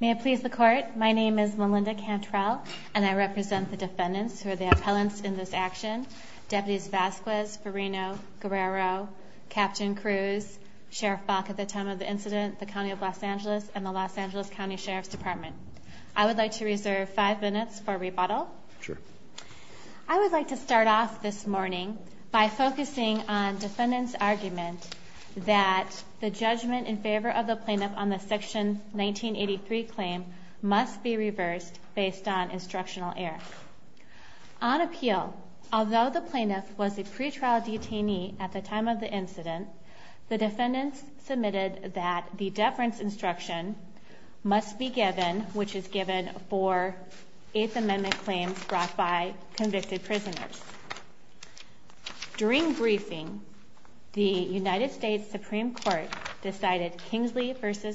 May it please the court, my name is Melinda Cantrell, and I represent the defendants who are the appellants in this action. Deputies Vasquez, Farino, Guerrero, Captain Cruz, Sheriff Falk at the time of the incident, the County of Los Angeles, and the Los Angeles County Sheriff's Department. I would like to reserve five minutes for rebuttal. I would like to start off this morning by focusing on defendants argument that the judgment in favor of the plaintiff on the section 1983 claim must be reversed based on instructional error. On appeal, although the plaintiff was a pretrial detainee at the time of the incident, the defendants submitted that the deference instruction must be given, which is given for Kingsley v.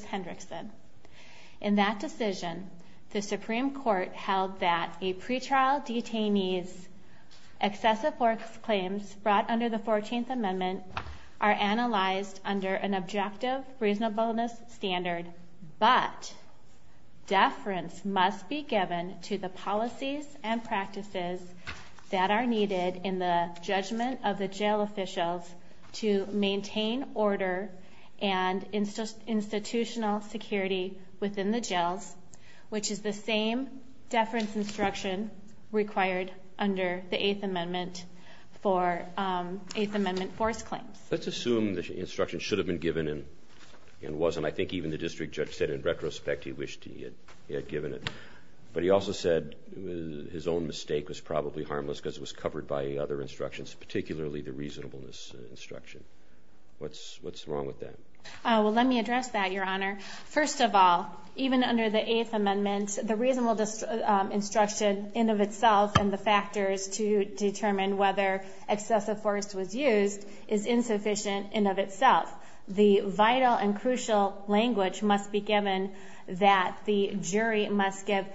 Hendrickson. In that decision, the Supreme Court held that a pretrial detainee's excessive force claims brought under the 14th Amendment are analyzed under an objective reasonableness standard, but deference must be given to the policies and practices that are needed in the judgment of the jail officials to maintain order and institutional security within the jails, which is the same deference instruction required under the 8th Amendment for 8th Amendment force claims. Let's assume the instruction should have been given and wasn't. I think even the district judge said in retrospect he wished he had given it, but he also said his own mistake was probably harmless because it was covered by other instructions, particularly the reasonableness instruction. What's wrong with that? Well, let me address that, Your Honor. First of all, even under the 8th Amendment, the reasonableness instruction in and of itself and the factors to determine whether excessive force was used is insufficient in and of itself. The vital and crucial language must be given that the jury must give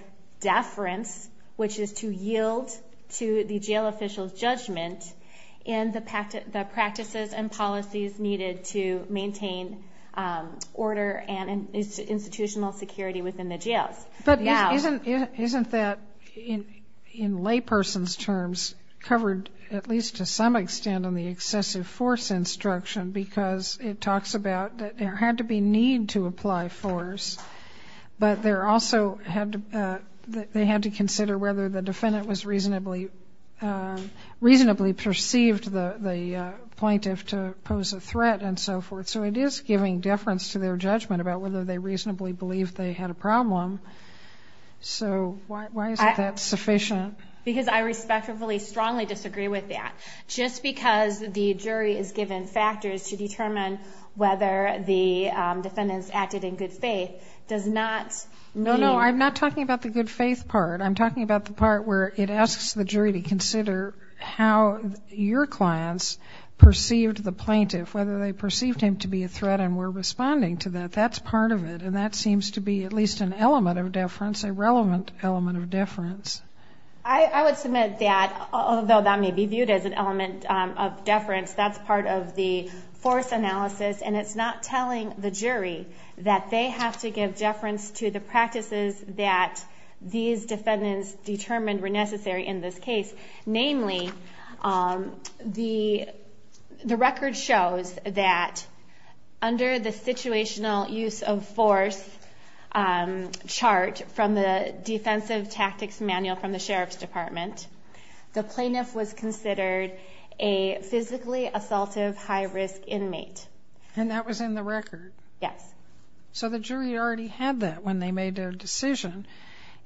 deference, which is to yield to the jail officials' judgment, in the practices and policies needed to maintain order and institutional security within the jails. But isn't that, in layperson's terms, covered at least to some extent on the excessive force instruction because it talks about that there had to be need to apply force, but they had to consider whether the defendant reasonably perceived the plaintiff to pose a threat and so forth. So it is giving deference to their judgment about whether they reasonably believed they had a problem. So why isn't that sufficient? Because I respectfully, strongly disagree with that. Just because the jury is given factors to determine whether the defendants acted in good faith does not mean... No, no, I'm not talking about the good faith part. I'm talking about the part where it asks the jury to consider how your clients perceived the plaintiff, whether they I would submit that, although that may be viewed as an element of deference, that's part of the force analysis and it's not telling the jury that they have to give deference to the The plaintiff was considered a physically assaultive high-risk inmate. And that was in the record? Yes. So the jury already had that when they made their decision.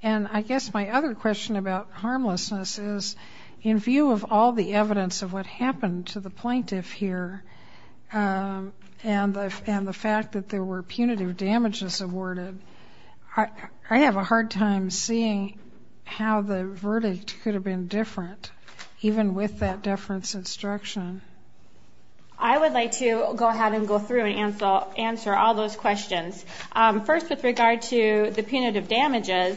And I guess my other question about harmlessness is, in view of all the evidence of what happened to the plaintiff here, and the fact that there were punitive damages awarded, I have a hard time seeing how the verdict could have been different, even with that deference instruction. I would like to go ahead and go through and answer all those questions. First, with regard to the punitive damages,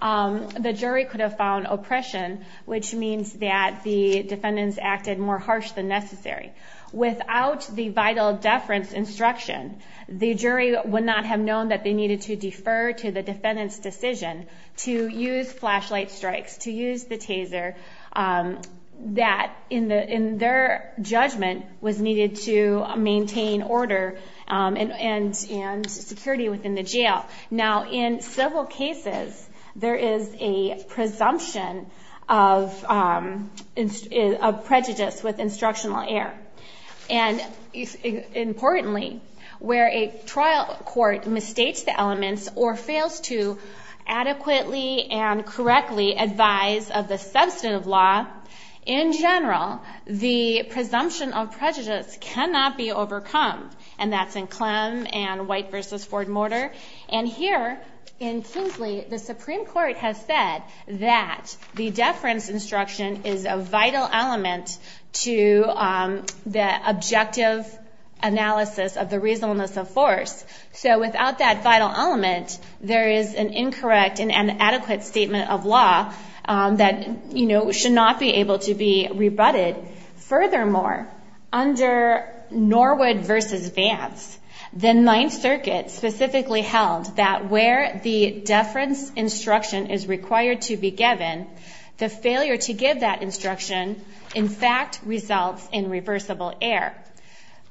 the jury could have found oppression, which means that the defendants acted more harsh than necessary. Without the vital deference instruction, the jury would not have known that they needed to defer to the defendant's decision to use flashlight strikes, to use the taser, that in their judgment was needed to maintain order and security within the jail. Now, in several cases, there is a presumption of prejudice with instructional error. And importantly, where a trial court misstates the elements or fails to adequately and correctly advise of the substantive law, in general, the presumption of prejudice cannot be overcome. And that's in Clem and White v. Ford Mortar. And here in Kingsley, the Supreme Court has said that the deference instruction is a vital element to the objective analysis of the reasonableness of force. So without that vital element, there is an incorrect and inadequate statement of law that should not be able to be rebutted. Furthermore, under Norwood v. Vance, the Ninth Circuit specifically held that where the deference instruction is required to be given, the failure to give that instruction, in fact, results in reversible error.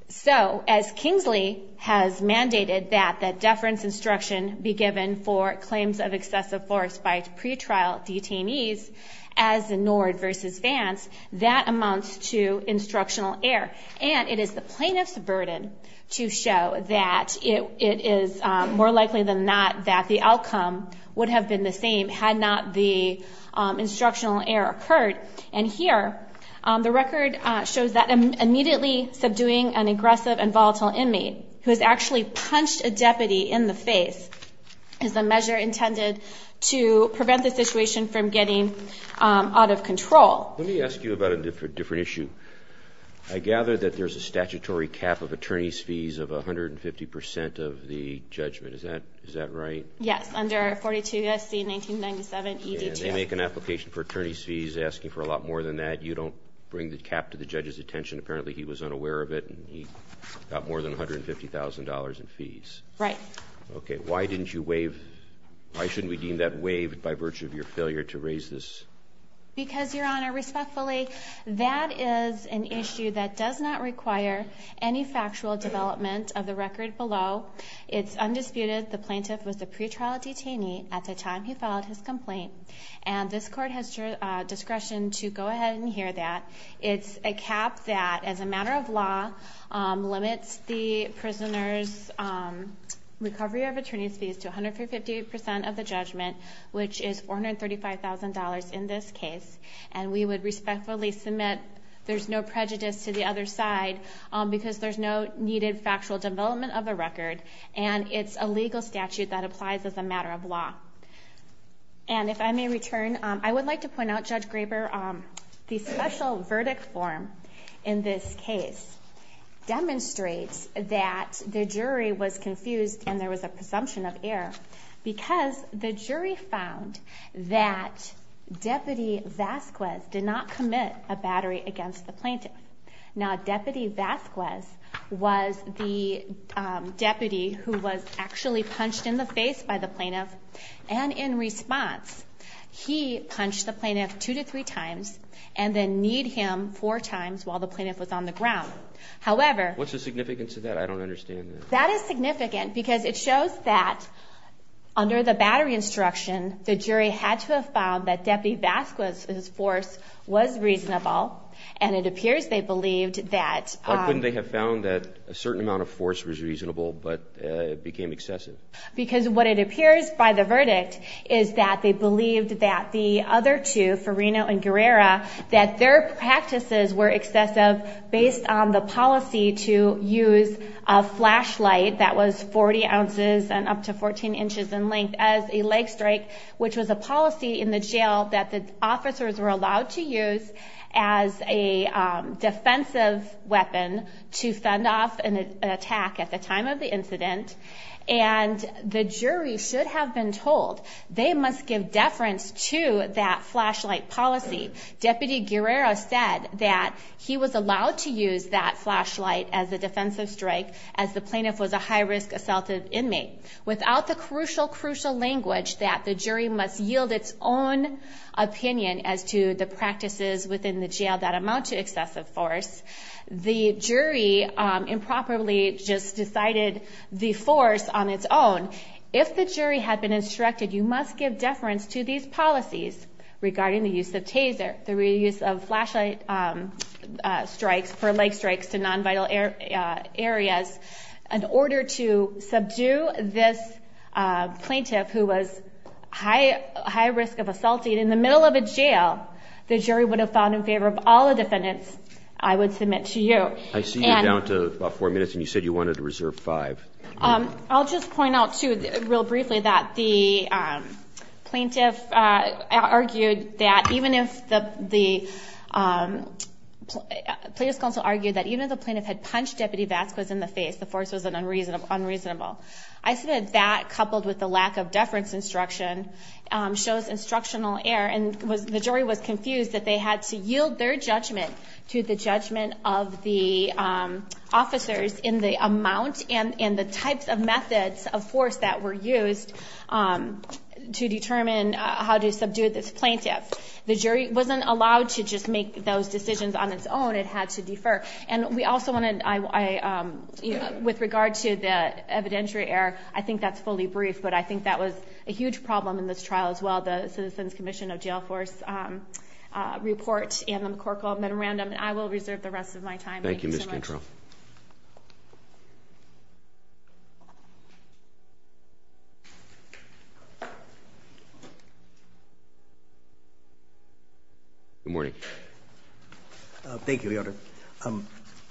So, as Kingsley has mandated that the deference instruction be given for claims of excessive force by pretrial detainees, as in Norwood v. Vance, that amounts to instructional error. And it is the plaintiff's burden to show that it is more likely than not that the outcome would have been the same had not the instructional error occurred. And here, the record shows that immediately subduing an aggressive and volatile inmate who has actually punched a deputy in the face is a measure intended to prevent the situation from getting out of control. Let me ask you about a different issue. I gather that there's a statutory cap of attorney's fees of 150 percent of the judgment. Is that right? Yes, under 42 U.S.C. 1997, ED2. And they make an application for attorney's fees asking for a lot more than that. You don't bring the cap to the judge's attention. Apparently, he was unaware of it, and he got more than $150,000 in fees. Right. Okay. Why didn't you waive? Why shouldn't we deem that waived by virtue of your failure to raise this? Because, Your Honor, respectfully, that is an issue that does not require any factual development of the record below. It's undisputed the plaintiff was a pretrial detainee at the time he filed his complaint, and this Court has discretion to go ahead and hear that. It's a cap that, as a matter of law, limits the prisoner's recovery of attorney's fees to 150 percent of the judgment, which is $435,000 in this case. And we would respectfully submit there's no prejudice to the other side because there's no needed factual development of the record, and it's a legal statute that applies as a matter of law. And if I may return, I would like to point out, Judge Graber, the special verdict form in this case demonstrates that the jury was confused and there was a presumption of error because the jury found that Deputy Vasquez did not commit a battery against the plaintiff. Now, Deputy Vasquez was the deputy who was actually punched in the face by the plaintiff. And in response, he punched the plaintiff two to three times and then kneed him four times while the plaintiff was on the ground. However... What's the significance of that? I don't understand that. That is significant because it shows that under the battery instruction, the jury had to have found that Deputy Vasquez's force was reasonable, and it appears they believed that... Why couldn't they have found that a certain amount of force was reasonable but it became excessive? Because what it appears by the verdict is that they believed that the other two, Farino and Guerrero, that their practices were excessive based on the policy to use a flashlight that was 40 ounces and up to 14 inches in length as a leg strike, which was a policy in the jail that the officers were allowed to use as a defensive weapon to fend off an attack at the time of the incident. And the jury should have been told they must give deference to that flashlight policy. Deputy Guerrero said that he was allowed to use that flashlight as a defensive strike as the plaintiff was a high-risk assaultive inmate. Without the crucial, crucial language that the jury must yield its own opinion as to the practices within the jail that amount to excessive force, the jury improperly just decided the force on its own. If the jury had been instructed you must give deference to these policies regarding the use of Taser, the reuse of flashlight strikes for leg strikes to non-vital areas, in order to subdue this plaintiff who was high-risk of assaulting in the middle of a jail, the jury would have found in favor of all the defendants I would submit to you. I see you're down to about four minutes, and you said you wanted to reserve five. I'll just point out too, real briefly, that the plaintiff argued that even if the plaintiff had punched Deputy Vasquez in the face, the force was unreasonable. I said that coupled with the lack of deference instruction shows instructional error, and the jury was confused that they had to yield their judgment to the judgment of the officers in the amount and the types of methods of force that were used to determine how to subdue this plaintiff. The jury wasn't allowed to just make those decisions on its own. It had to defer. With regard to the evidentiary error, I think that's fully brief, but I think that was a huge problem in this trial as well, the Citizens Commission of Jail Force report and the McCorkle memorandum. I will reserve the rest of my time. Thank you so much. Thank you, Ms. Cantrell. Good morning. Thank you, Your Honor.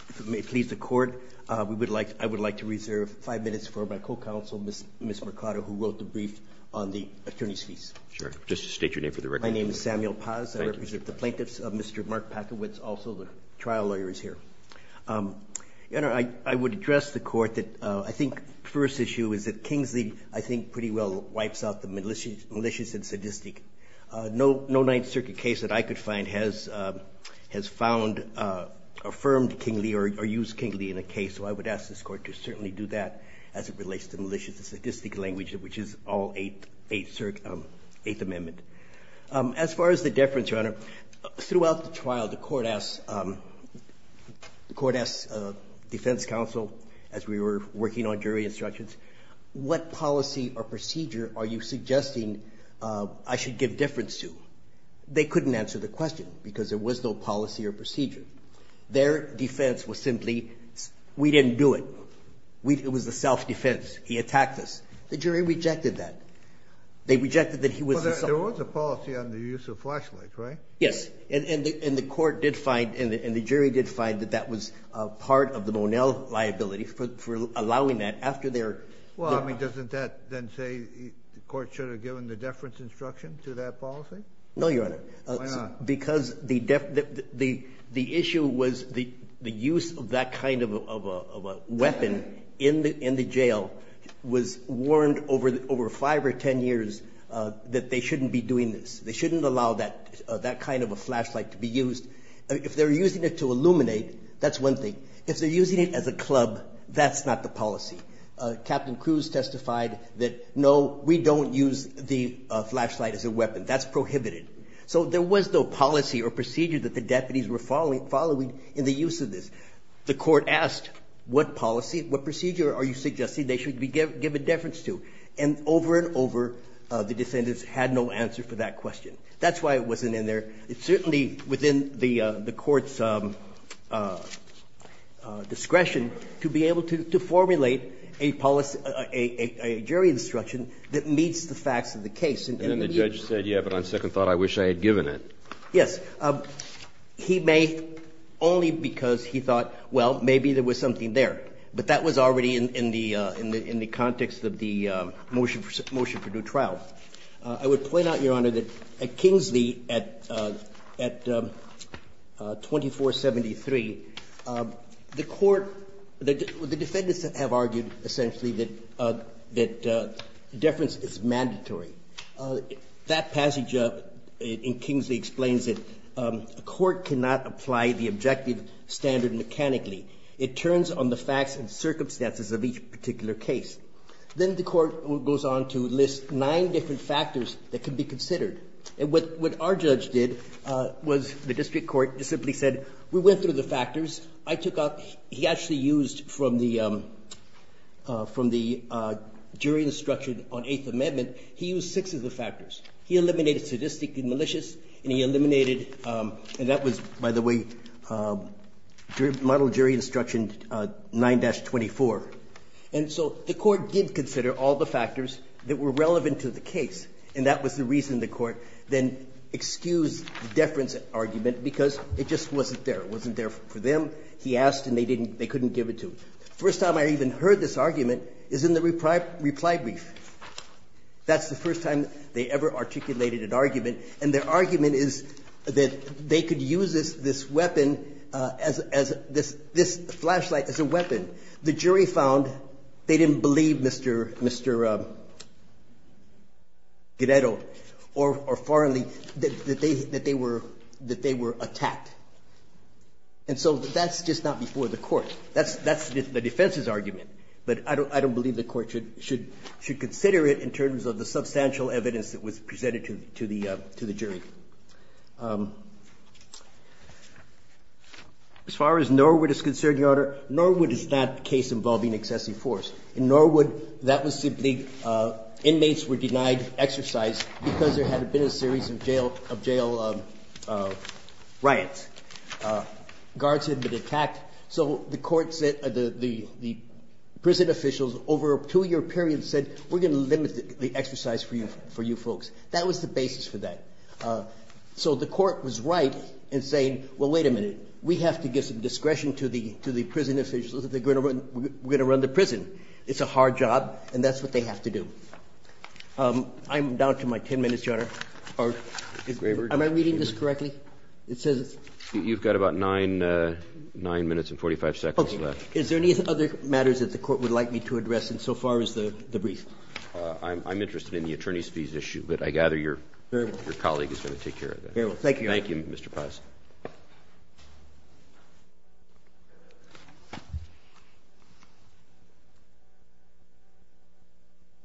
If it pleases the Court, I would like to reserve five minutes for my co-counsel, Ms. Mercado, who wrote the brief on the attorney's fees. Sure. Just state your name for the record. My name is Samuel Paz. I represent the plaintiffs. Mr. Mark Packowitz, also the trial lawyer, is here. Your Honor, I would address the Court that I think the first issue is that Kingsley, I think, pretty well wipes out the malicious and sadistic. No Ninth Circuit case that I could find has found, affirmed Kingsley or used Kingsley in a case, so I would ask this Court to certainly do that as it relates to malicious and sadistic language, which is all Eighth Amendment. As far as the difference, Your Honor, throughout the trial, the Court asked defense counsel, as we were working on jury instructions, what policy or procedure are you suggesting I should give difference to? They couldn't answer the question because there was no policy or procedure. Their defense was simply, we didn't do it. It was a self-defense. He attacked us. The jury rejected that. They rejected that he was assaulting us. There was a policy on the use of flashlights, right? Yes. And the court did find, and the jury did find, that that was part of the Monell liability for allowing that after their... Well, I mean, doesn't that then say the court should have given the deference instruction to that policy? No, Your Honor. Why not? Because the issue was the use of that kind of a weapon in the jail was warned over five or ten years that they shouldn't be doing this. They shouldn't allow that kind of a flashlight to be used. If they're using it to illuminate, that's one thing. If they're using it as a club, that's not the policy. Captain Cruz testified that, no, we don't use the flashlight as a weapon. That's prohibited. So there was no policy or procedure that the deputies were following in the use of this. The court asked, what policy, what procedure are you suggesting they should give a deference to? And over and over, the defendants had no answer for that question. That's why it wasn't in there. It's certainly within the court's discretion to be able to formulate a policy, a jury instruction that meets the facts of the case. And then the judge said, yeah, but on second thought, I wish I had given it. Yes. He made it only because he thought, well, maybe there was something there. But that was already in the context of the motion for due trial. I would point out, Your Honor, that at Kingsley, at 2473, the court, the defendants have argued essentially that deference is mandatory. That passage in Kingsley explains it. The court cannot apply the objective standard mechanically. It turns on the facts and circumstances of each particular case. Then the court goes on to list nine different factors that can be considered. And what our judge did was the district court simply said, we went through the factors. I took out – he actually used from the jury instruction on Eighth Amendment, he used six of the factors. He eliminated sadistic and malicious, and he eliminated – and that was, by the way, model jury instruction 9-24. And so the court did consider all the factors that were relevant to the case, and that was the reason the court then excused the deference argument because it just wasn't there. It wasn't there for them. He asked, and they didn't – they couldn't give it to him. The first time I even heard this argument is in the reply brief. That's the first time they ever articulated an argument, and their argument is that they could use this weapon as – this flashlight as a weapon. The jury found they didn't believe Mr. Guerrero or Farley that they were attacked. And so that's just not before the court. That's the defense's argument, but I don't believe the court should consider it in terms of the substantial evidence that was presented to the jury. As far as Norwood is concerned, Your Honor, Norwood is not a case involving excessive force. In Norwood, that was simply inmates were denied exercise because there had been a series of jail riots. Guards had been attacked. So the court said – the prison officials over a two-year period said, we're going to limit the exercise for you folks. That was the basis for that. So the court was right in saying, well, wait a minute. We have to give some discretion to the prison officials. We're going to run the prison. It's a hard job, and that's what they have to do. I'm down to my 10 minutes, Your Honor. Am I reading this correctly? It says it's – You've got about 9 minutes and 45 seconds left. Okay. Is there any other matters that the court would like me to address insofar as the brief? I'm interested in the attorney's fees issue. But I gather your colleague is going to take care of that. Very well. Thank you, Your Honor. Thank you, Mr. Paz.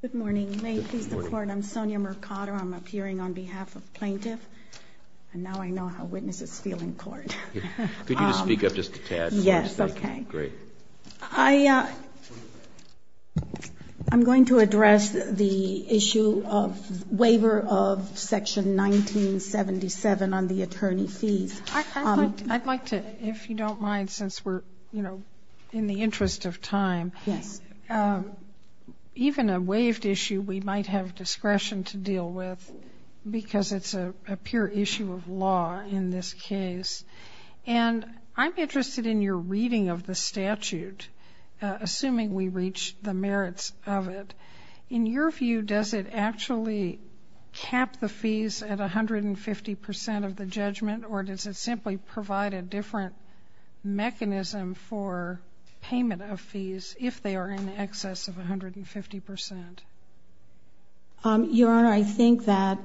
Good morning. May it please the Court, I'm Sonia Mercado. I'm appearing on behalf of plaintiff, and now I know how witnesses feel in court. Could you just speak up just a tad? Yes, okay. Great. I'm going to address the issue of waiver of Section 1977 on the attorney fees. I'd like to, if you don't mind, since we're, you know, in the interest of time. Yes. Even a waived issue we might have discretion to deal with because it's a pure issue of law in this case. And I'm interested in your reading of the statute, assuming we reach the merits of it. In your view, does it actually cap the fees at 150% of the judgment, or does it simply provide a different mechanism for payment of fees if they are in excess of 150%? Your Honor, I think that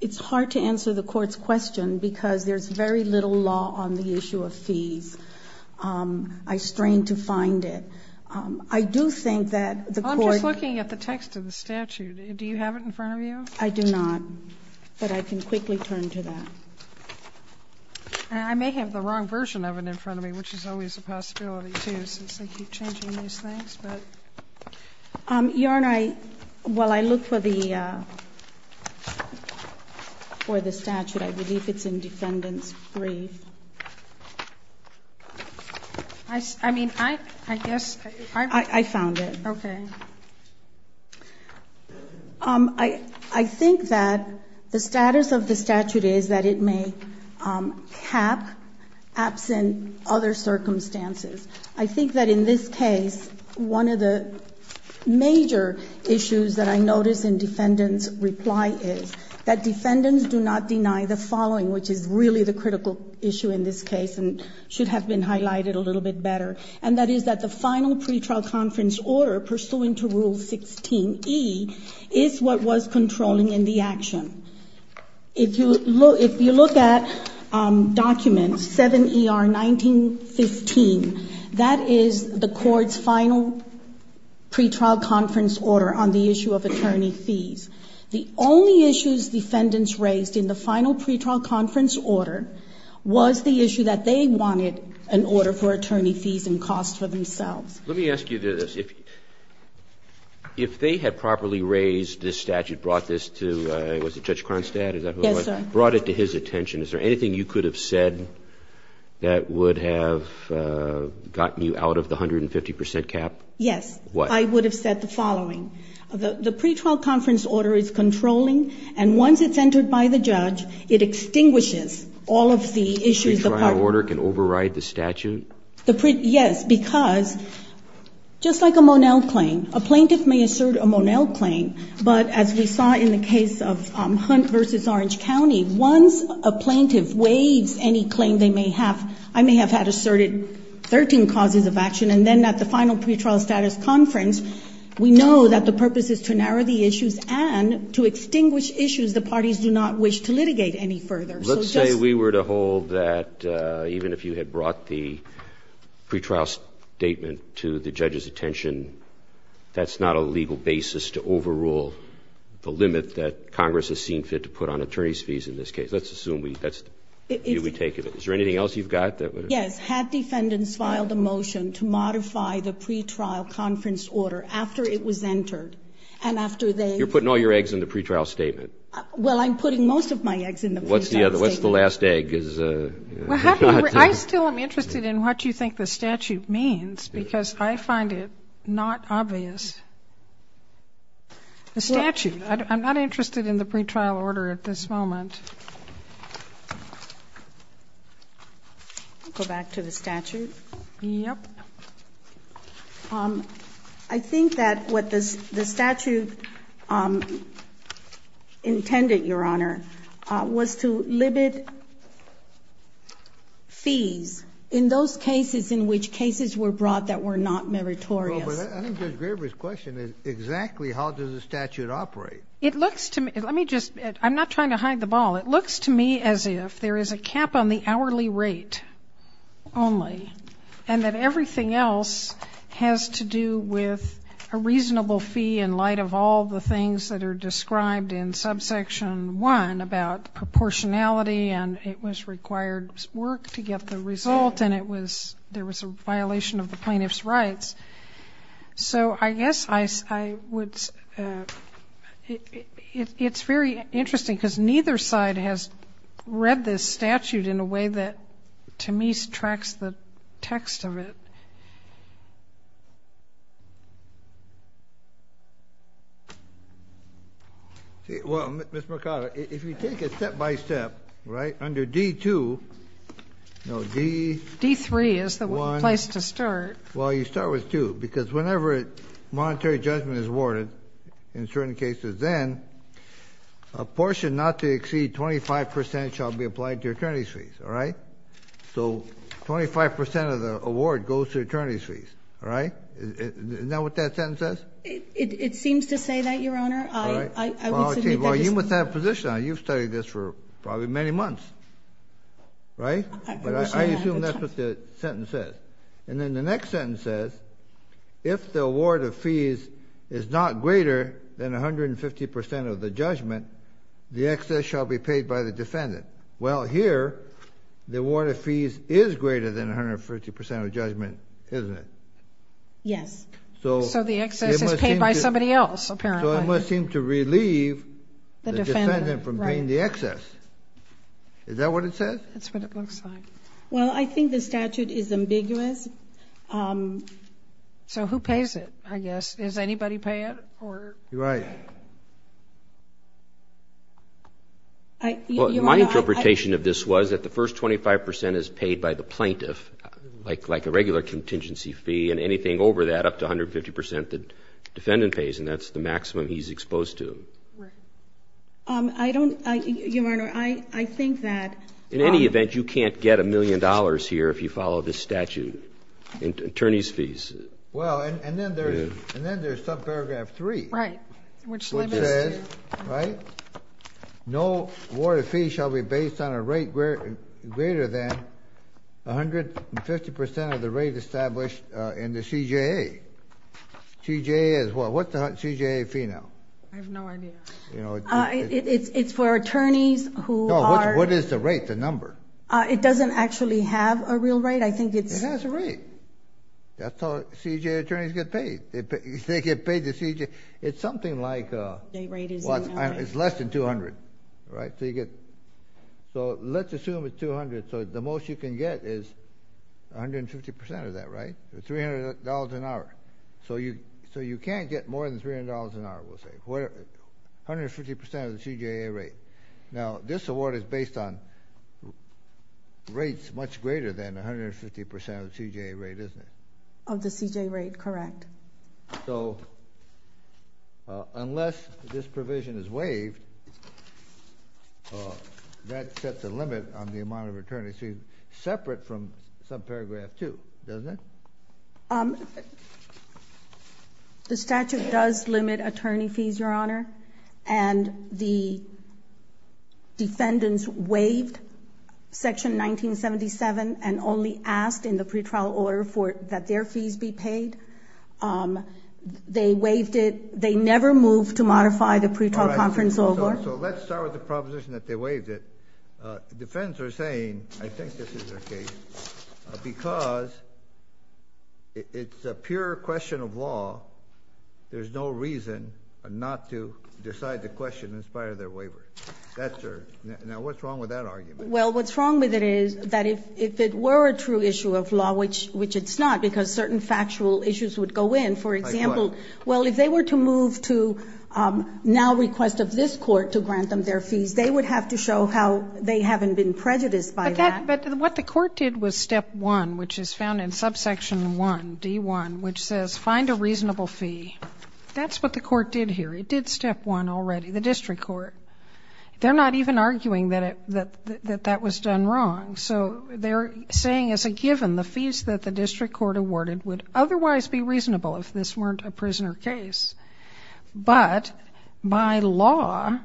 it's hard to answer the Court's question because there's very little law on the issue of fees. I strain to find it. I do think that the Court ---- I'm just looking at the text of the statute. Do you have it in front of you? I do not, but I can quickly turn to that. And I may have the wrong version of it in front of me, which is always a possibility too, since I keep changing these things. Your Honor, while I look for the statute, I believe it's in Defendant's brief. I mean, I guess ---- I found it. Okay. I think that the status of the statute is that it may cap, absent other circumstances. I think that in this case, one of the major issues that I notice in Defendant's reply is that Defendants do not deny the following, which is really the critical issue in this case and should have been highlighted a little bit better. And that is that the final pretrial conference order pursuant to Rule 16E is what was controlling in the action. If you look at document 7ER1915, that is the Court's final pretrial conference order on the issue of attorney fees. The only issues Defendants raised in the final pretrial conference order was the issue that they wanted an order for attorney fees and costs for themselves. Let me ask you this. If they had properly raised this statute, brought this to, was it Judge Kronstadt? Yes, sir. Brought it to his attention. Is there anything you could have said that would have gotten you out of the 150 percent cap? Yes. What? I would have said the following. The pretrial conference order is controlling, and once it's entered by the judge, it extinguishes all of the issues. The pretrial order can override the statute? Yes, because just like a Monell claim, a plaintiff may assert a Monell claim, but as we saw in the case of Hunt v. Orange County, once a plaintiff waives any claim they may have, I may have had asserted 13 causes of action, and then at the final pretrial status conference, we know that the purpose is to narrow the issues and to extinguish issues the parties do not wish to litigate any further. Let's say we were to hold that even if you had brought the pretrial statement to the judge's attention, that's not a legal basis to overrule the limit that Congress has seen fit to put on attorney's fees in this case. Let's assume that's the view we take of it. Is there anything else you've got? Yes. Had defendants filed a motion to modify the pretrial conference order after it was entered, and after they ---- You're putting all your eggs in the pretrial statement. Well, I'm putting most of my eggs in the pretrial statement. What's the last egg? I still am interested in what you think the statute means, because I find it not obvious. The statute. I'm not interested in the pretrial order at this moment. Go back to the statute. Yes. I think that what the statute intended, Your Honor, was to limit fees in those cases in which cases were brought that were not meritorious. Well, but I think Judge Graber's question is exactly how does the statute operate. It looks to me ---- let me just ---- I'm not trying to hide the ball. It looks to me as if there is a cap on the hourly rate only, and that everything else has to do with a reasonable fee in light of all the things that are described in subsection 1 about proportionality, and it was required work to get the result, and it was ---- there was a violation of the plaintiff's rights. So I guess I would ---- it's very interesting, because neither side has read this statute in a way that to me tracks the text of it. Well, Ms. Mercado, if you take it step by step, right, under D-2, no, D-1. D-3 is the place to start. Well, you start with 2, because whenever monetary judgment is awarded in certain cases, then a portion not to exceed 25 percent shall be applied to your attorney's fees, all right? So 25 percent of the award goes to attorney's fees, all right? Isn't that what that sentence says? It seems to say that, Your Honor. All right. Well, you must have a position on it. You've studied this for probably many months, right? I assume that's what the sentence says. And then the next sentence says, if the award of fees is not greater than 150 percent of the judgment, the excess shall be paid by the defendant. Well, here the award of fees is greater than 150 percent of judgment, isn't it? Yes. So the excess is paid by somebody else, apparently. So it must seem to relieve the defendant from paying the excess. Is that what it says? That's what it looks like. Well, I think the statute is ambiguous. So who pays it, I guess? Does anybody pay it? You're right. My interpretation of this was that the first 25 percent is paid by the plaintiff, like a regular contingency fee, and anything over that, up to 150 percent, the defendant pays, and that's the maximum he's exposed to. Right. I don't, Your Honor, I think that. In any event, you can't get a million dollars here if you follow this statute, attorney's fees. Well, and then there's subparagraph 3. Right. Which says, right, no award of fees shall be based on a rate greater than 150 percent of the rate established in the CJA. CJA is what? What's the CJA fee now? I have no idea. It's for attorneys who are. What is the rate, the number? It doesn't actually have a real rate. I think it's. It has a rate. That's how CJA attorneys get paid. They get paid the CJA. It's something like. The rate is. It's less than 200, right? So you get. So let's assume it's 200. So the most you can get is 150 percent of that, right? $300 an hour. So you can't get more than $300 an hour, we'll say. 150 percent of the CJA rate. Now, this award is based on rates much greater than 150 percent of the CJA rate, isn't it? Of the CJA rate, correct. So unless this provision is waived, that sets a limit on the amount of attorney fees separate from subparagraph 2, doesn't it? The statute does limit attorney fees, Your Honor. And the defendants waived Section 1977 and only asked in the pretrial order that their fees be paid. They waived it. They never moved to modify the pretrial conference over. So let's start with the proposition that they waived it. The defendants are saying, I think this is their case, because it's a pure question of law. There's no reason not to decide the question in spite of their waiver. Now, what's wrong with that argument? Well, what's wrong with it is that if it were a true issue of law, which it's not, because certain factual issues would go in, for example, well, if they were to move to now request of this Court to grant them their fees, they would have to show how they haven't been prejudiced by that. But what the Court did was Step 1, which is found in Subsection 1, D1, which says find a reasonable fee. That's what the Court did here. It did Step 1 already, the district court. They're not even arguing that that was done wrong. So they're saying as a given the fees that the district court awarded would otherwise be reasonable if this weren't a prisoner case. But by law,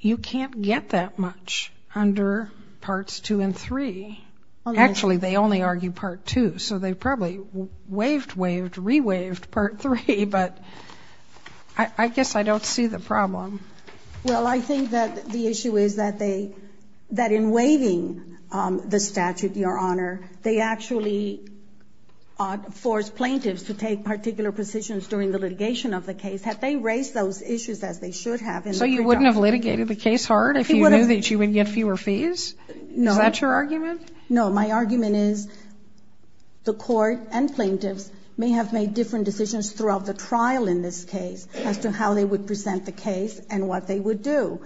you can't get that much under Parts 2 and 3. Actually, they only argue Part 2. So they probably waived, waived, re-waived Part 3. But I guess I don't see the problem. Well, I think that the issue is that they, that in waiving the statute, Your Honor, they actually force plaintiffs to take particular positions during the litigation of the case. Had they raised those issues as they should have in their charge. So you wouldn't have litigated the case hard if you knew that you would get fewer fees? Is that your argument? No. My argument is the Court and plaintiffs may have made different decisions throughout the trial in this case as to how they would present the case and what they would do.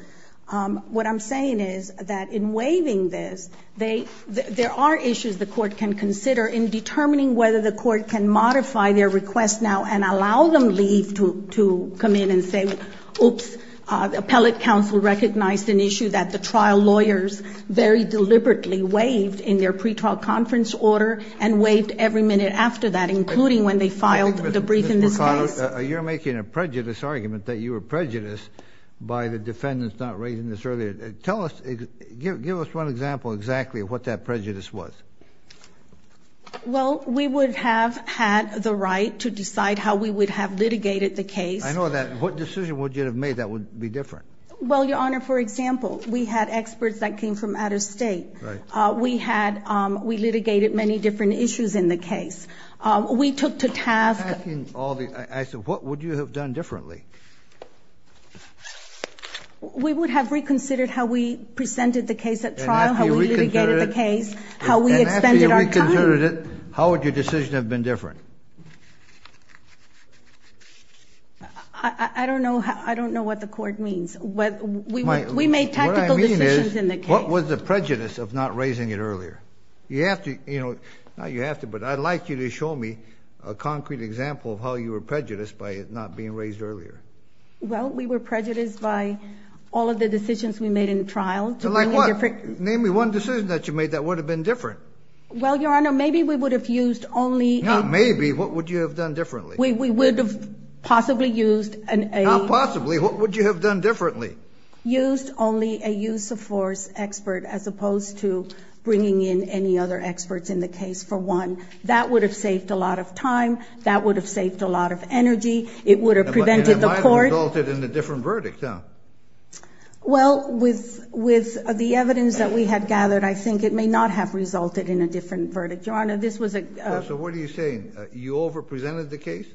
What I'm saying is that in waiving this, there are issues the Court can consider in determining whether the Court can modify their request now and allow them leave to come in and say, oops, appellate counsel recognized an issue that the trial lawyers very deliberately waived in their pre-trial conference order and waived every minute after that, including when they filed the brief in this case. You're making a prejudice argument that you were prejudiced by the defendants not raising this earlier. Tell us, give us one example exactly of what that prejudice was. Well, we would have had the right to decide how we would have litigated the case. I know that. What decision would you have made that would be different? Well, Your Honor, for example, we had experts that came from out of state. Right. We had, we litigated many different issues in the case. We took to task. What would you have done differently? We would have reconsidered how we presented the case at trial, how we litigated the case, how we expended our time. And after you reconsidered it, how would your decision have been different? I don't know what the court means. We made tactical decisions in the case. What I mean is, what was the prejudice of not raising it earlier? You have to, you know, not you have to, but I'd like you to show me a concrete example of how you were prejudiced by it not being raised earlier. Well, we were prejudiced by all of the decisions we made in trial. Like what? Name me one decision that you made that would have been different. Well, Your Honor, maybe we would have used only a Maybe. What would you have done differently? We would have possibly used an Not possibly. What would you have done differently? Used only a use of force expert as opposed to bringing in any other experts in the case for one. That would have saved a lot of time. That would have saved a lot of energy. It would have prevented the court And it might have resulted in a different verdict, huh? Well, with the evidence that we had gathered, I think it may not have resulted in a different verdict. Your Honor, this was a So what are you saying? You over-presented the case?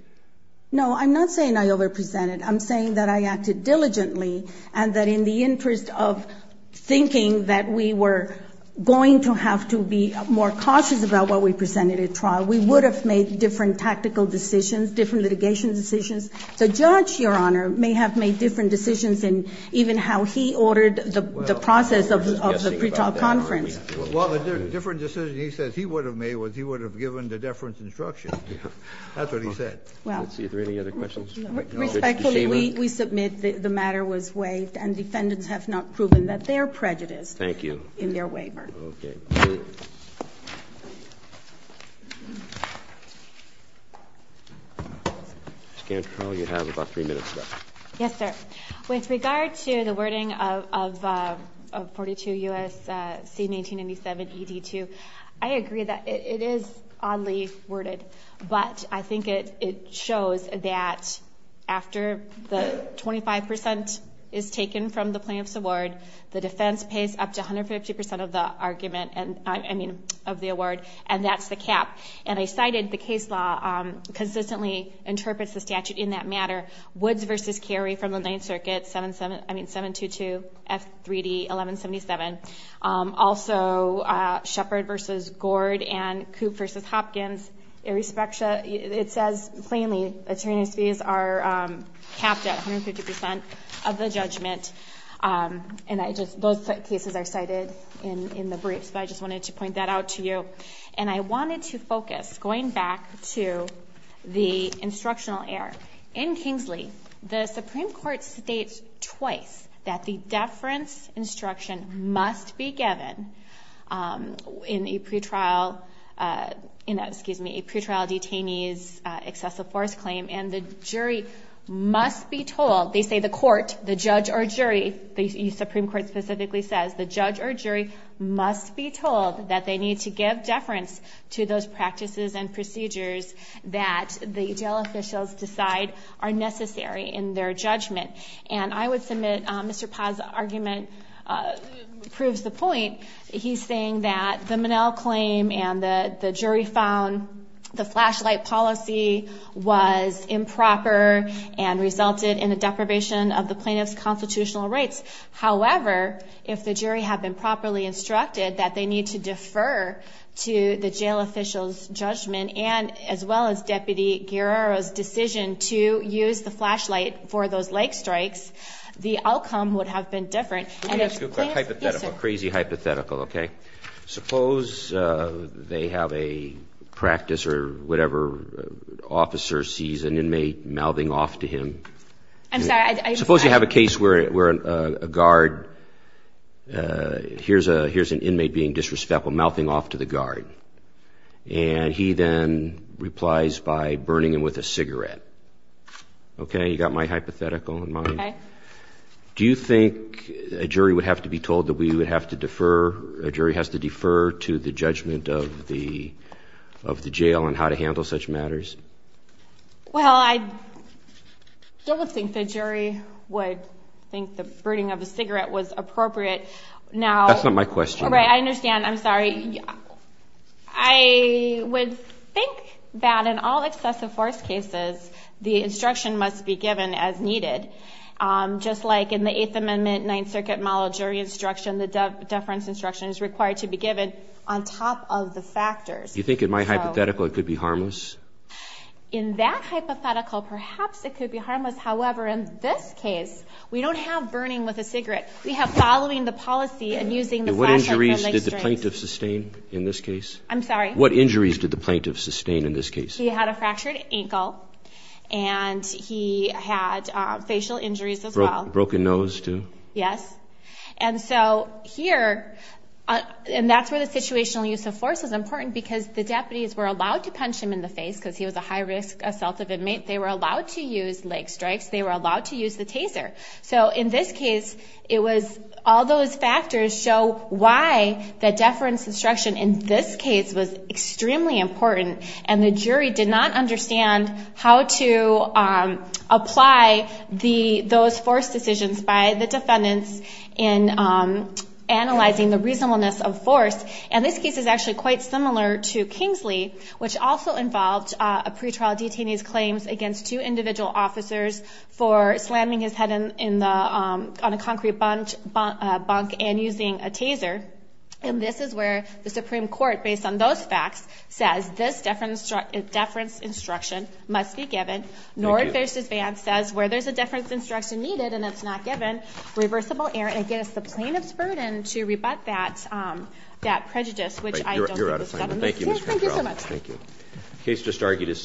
No, I'm not saying I over-presented. I'm saying that I acted diligently and that in the interest of thinking that we were going to have to be more cautious about what we presented at trial, we would have made different tactical decisions, different litigation decisions. The judge, Your Honor, may have made different decisions in even how he ordered the process of the pretrial conference. Well, the different decision he says he would have made was he would have given the deference instruction. That's what he said. Let's see. Are there any other questions? Respectfully, we submit that the matter was waived and defendants have not proven that they are prejudiced. Thank you. In their waiver. Okay. Ms. Cantrell, you have about three minutes left. Yes, sir. With regard to the wording of 42 U.S.C. 1987ED2, I agree that it is oddly worded, but I think it shows that after the 25% is taken from the plaintiff's award, the defense pays up to 150% of the award, and that's the cap. And I cited the case law consistently interprets the statute in that matter. Woods v. Cary from the Ninth Circuit, 722F3D1177. Also, Shepard v. Gord and Coop v. Hopkins. It says plainly attorneys' fees are capped at 150% of the judgment, and those cases are cited in the briefs, but I just wanted to point that out to you. And I wanted to focus, going back to the instructional error. In Kingsley, the Supreme Court states twice that the deference instruction must be given in a pretrial detainee's excessive force claim, and the jury must be told, they say the court, the judge or jury, the Supreme Court specifically says, the judge or jury must be told that they need to give deference to those practices and procedures that the jail officials decide are necessary in their judgment. And I would submit Mr. Paz's argument proves the point. He's saying that the Monell claim and the jury found the flashlight policy was improper and resulted in a deprivation of the plaintiff's constitutional rights. However, if the jury had been properly instructed that they need to defer to the jail official's judgment as well as Deputy Guerrero's decision to use the flashlight for those leg strikes, the outcome would have been different. And it's crazy hypothetical, okay? Suppose they have a practice or whatever officer sees an inmate mouthing off to him. I'm sorry. Suppose you have a case where a guard hears an inmate being disrespectful mouthing off to the guard, and he then replies by burning him with a cigarette. Okay, you got my hypothetical in mind? Okay. Do you think a jury would have to be told that we would have to defer, a jury has to defer to the judgment of the jail on how to handle such matters? Well, I don't think the jury would think the burning of a cigarette was appropriate. That's not my question. Right, I understand. I'm sorry. I would think that in all excessive force cases, the instruction must be given as needed. Just like in the Eighth Amendment, Ninth Circuit Monell jury instruction, the deference instruction is required to be given on top of the factors. Do you think in my hypothetical it could be harmless? In that hypothetical, perhaps it could be harmless. However, in this case, we don't have burning with a cigarette. We have following the policy and using the flashlight. And what injuries did the plaintiff sustain in this case? I'm sorry. What injuries did the plaintiff sustain in this case? He had a fractured ankle, and he had facial injuries as well. Broken nose too? Yes. And so here, and that's where the situational use of force is important because the deputies were allowed to punch him in the face because he was a high-risk assaultive inmate. They were allowed to use leg strikes. They were allowed to use the taser. So in this case, it was all those factors show why the deference instruction in this case was extremely important, and the jury did not understand how to apply those force decisions by the defendants in analyzing the reasonableness of force. And this case is actually quite similar to Kingsley, which also involved a pretrial detainee's claims against two individual officers for slamming his head on a concrete bunk and using a taser. And this is where the Supreme Court, based on those facts, says this deference instruction must be given. Thank you. Nord v. Vance says where there's a deference instruction needed and it's not given, reversible error against the plaintiff's burden to rebut that prejudice, which I don't think was done in this case. You're out of time. Thank you, Ms. Cantrell. Thank you so much. Thank you.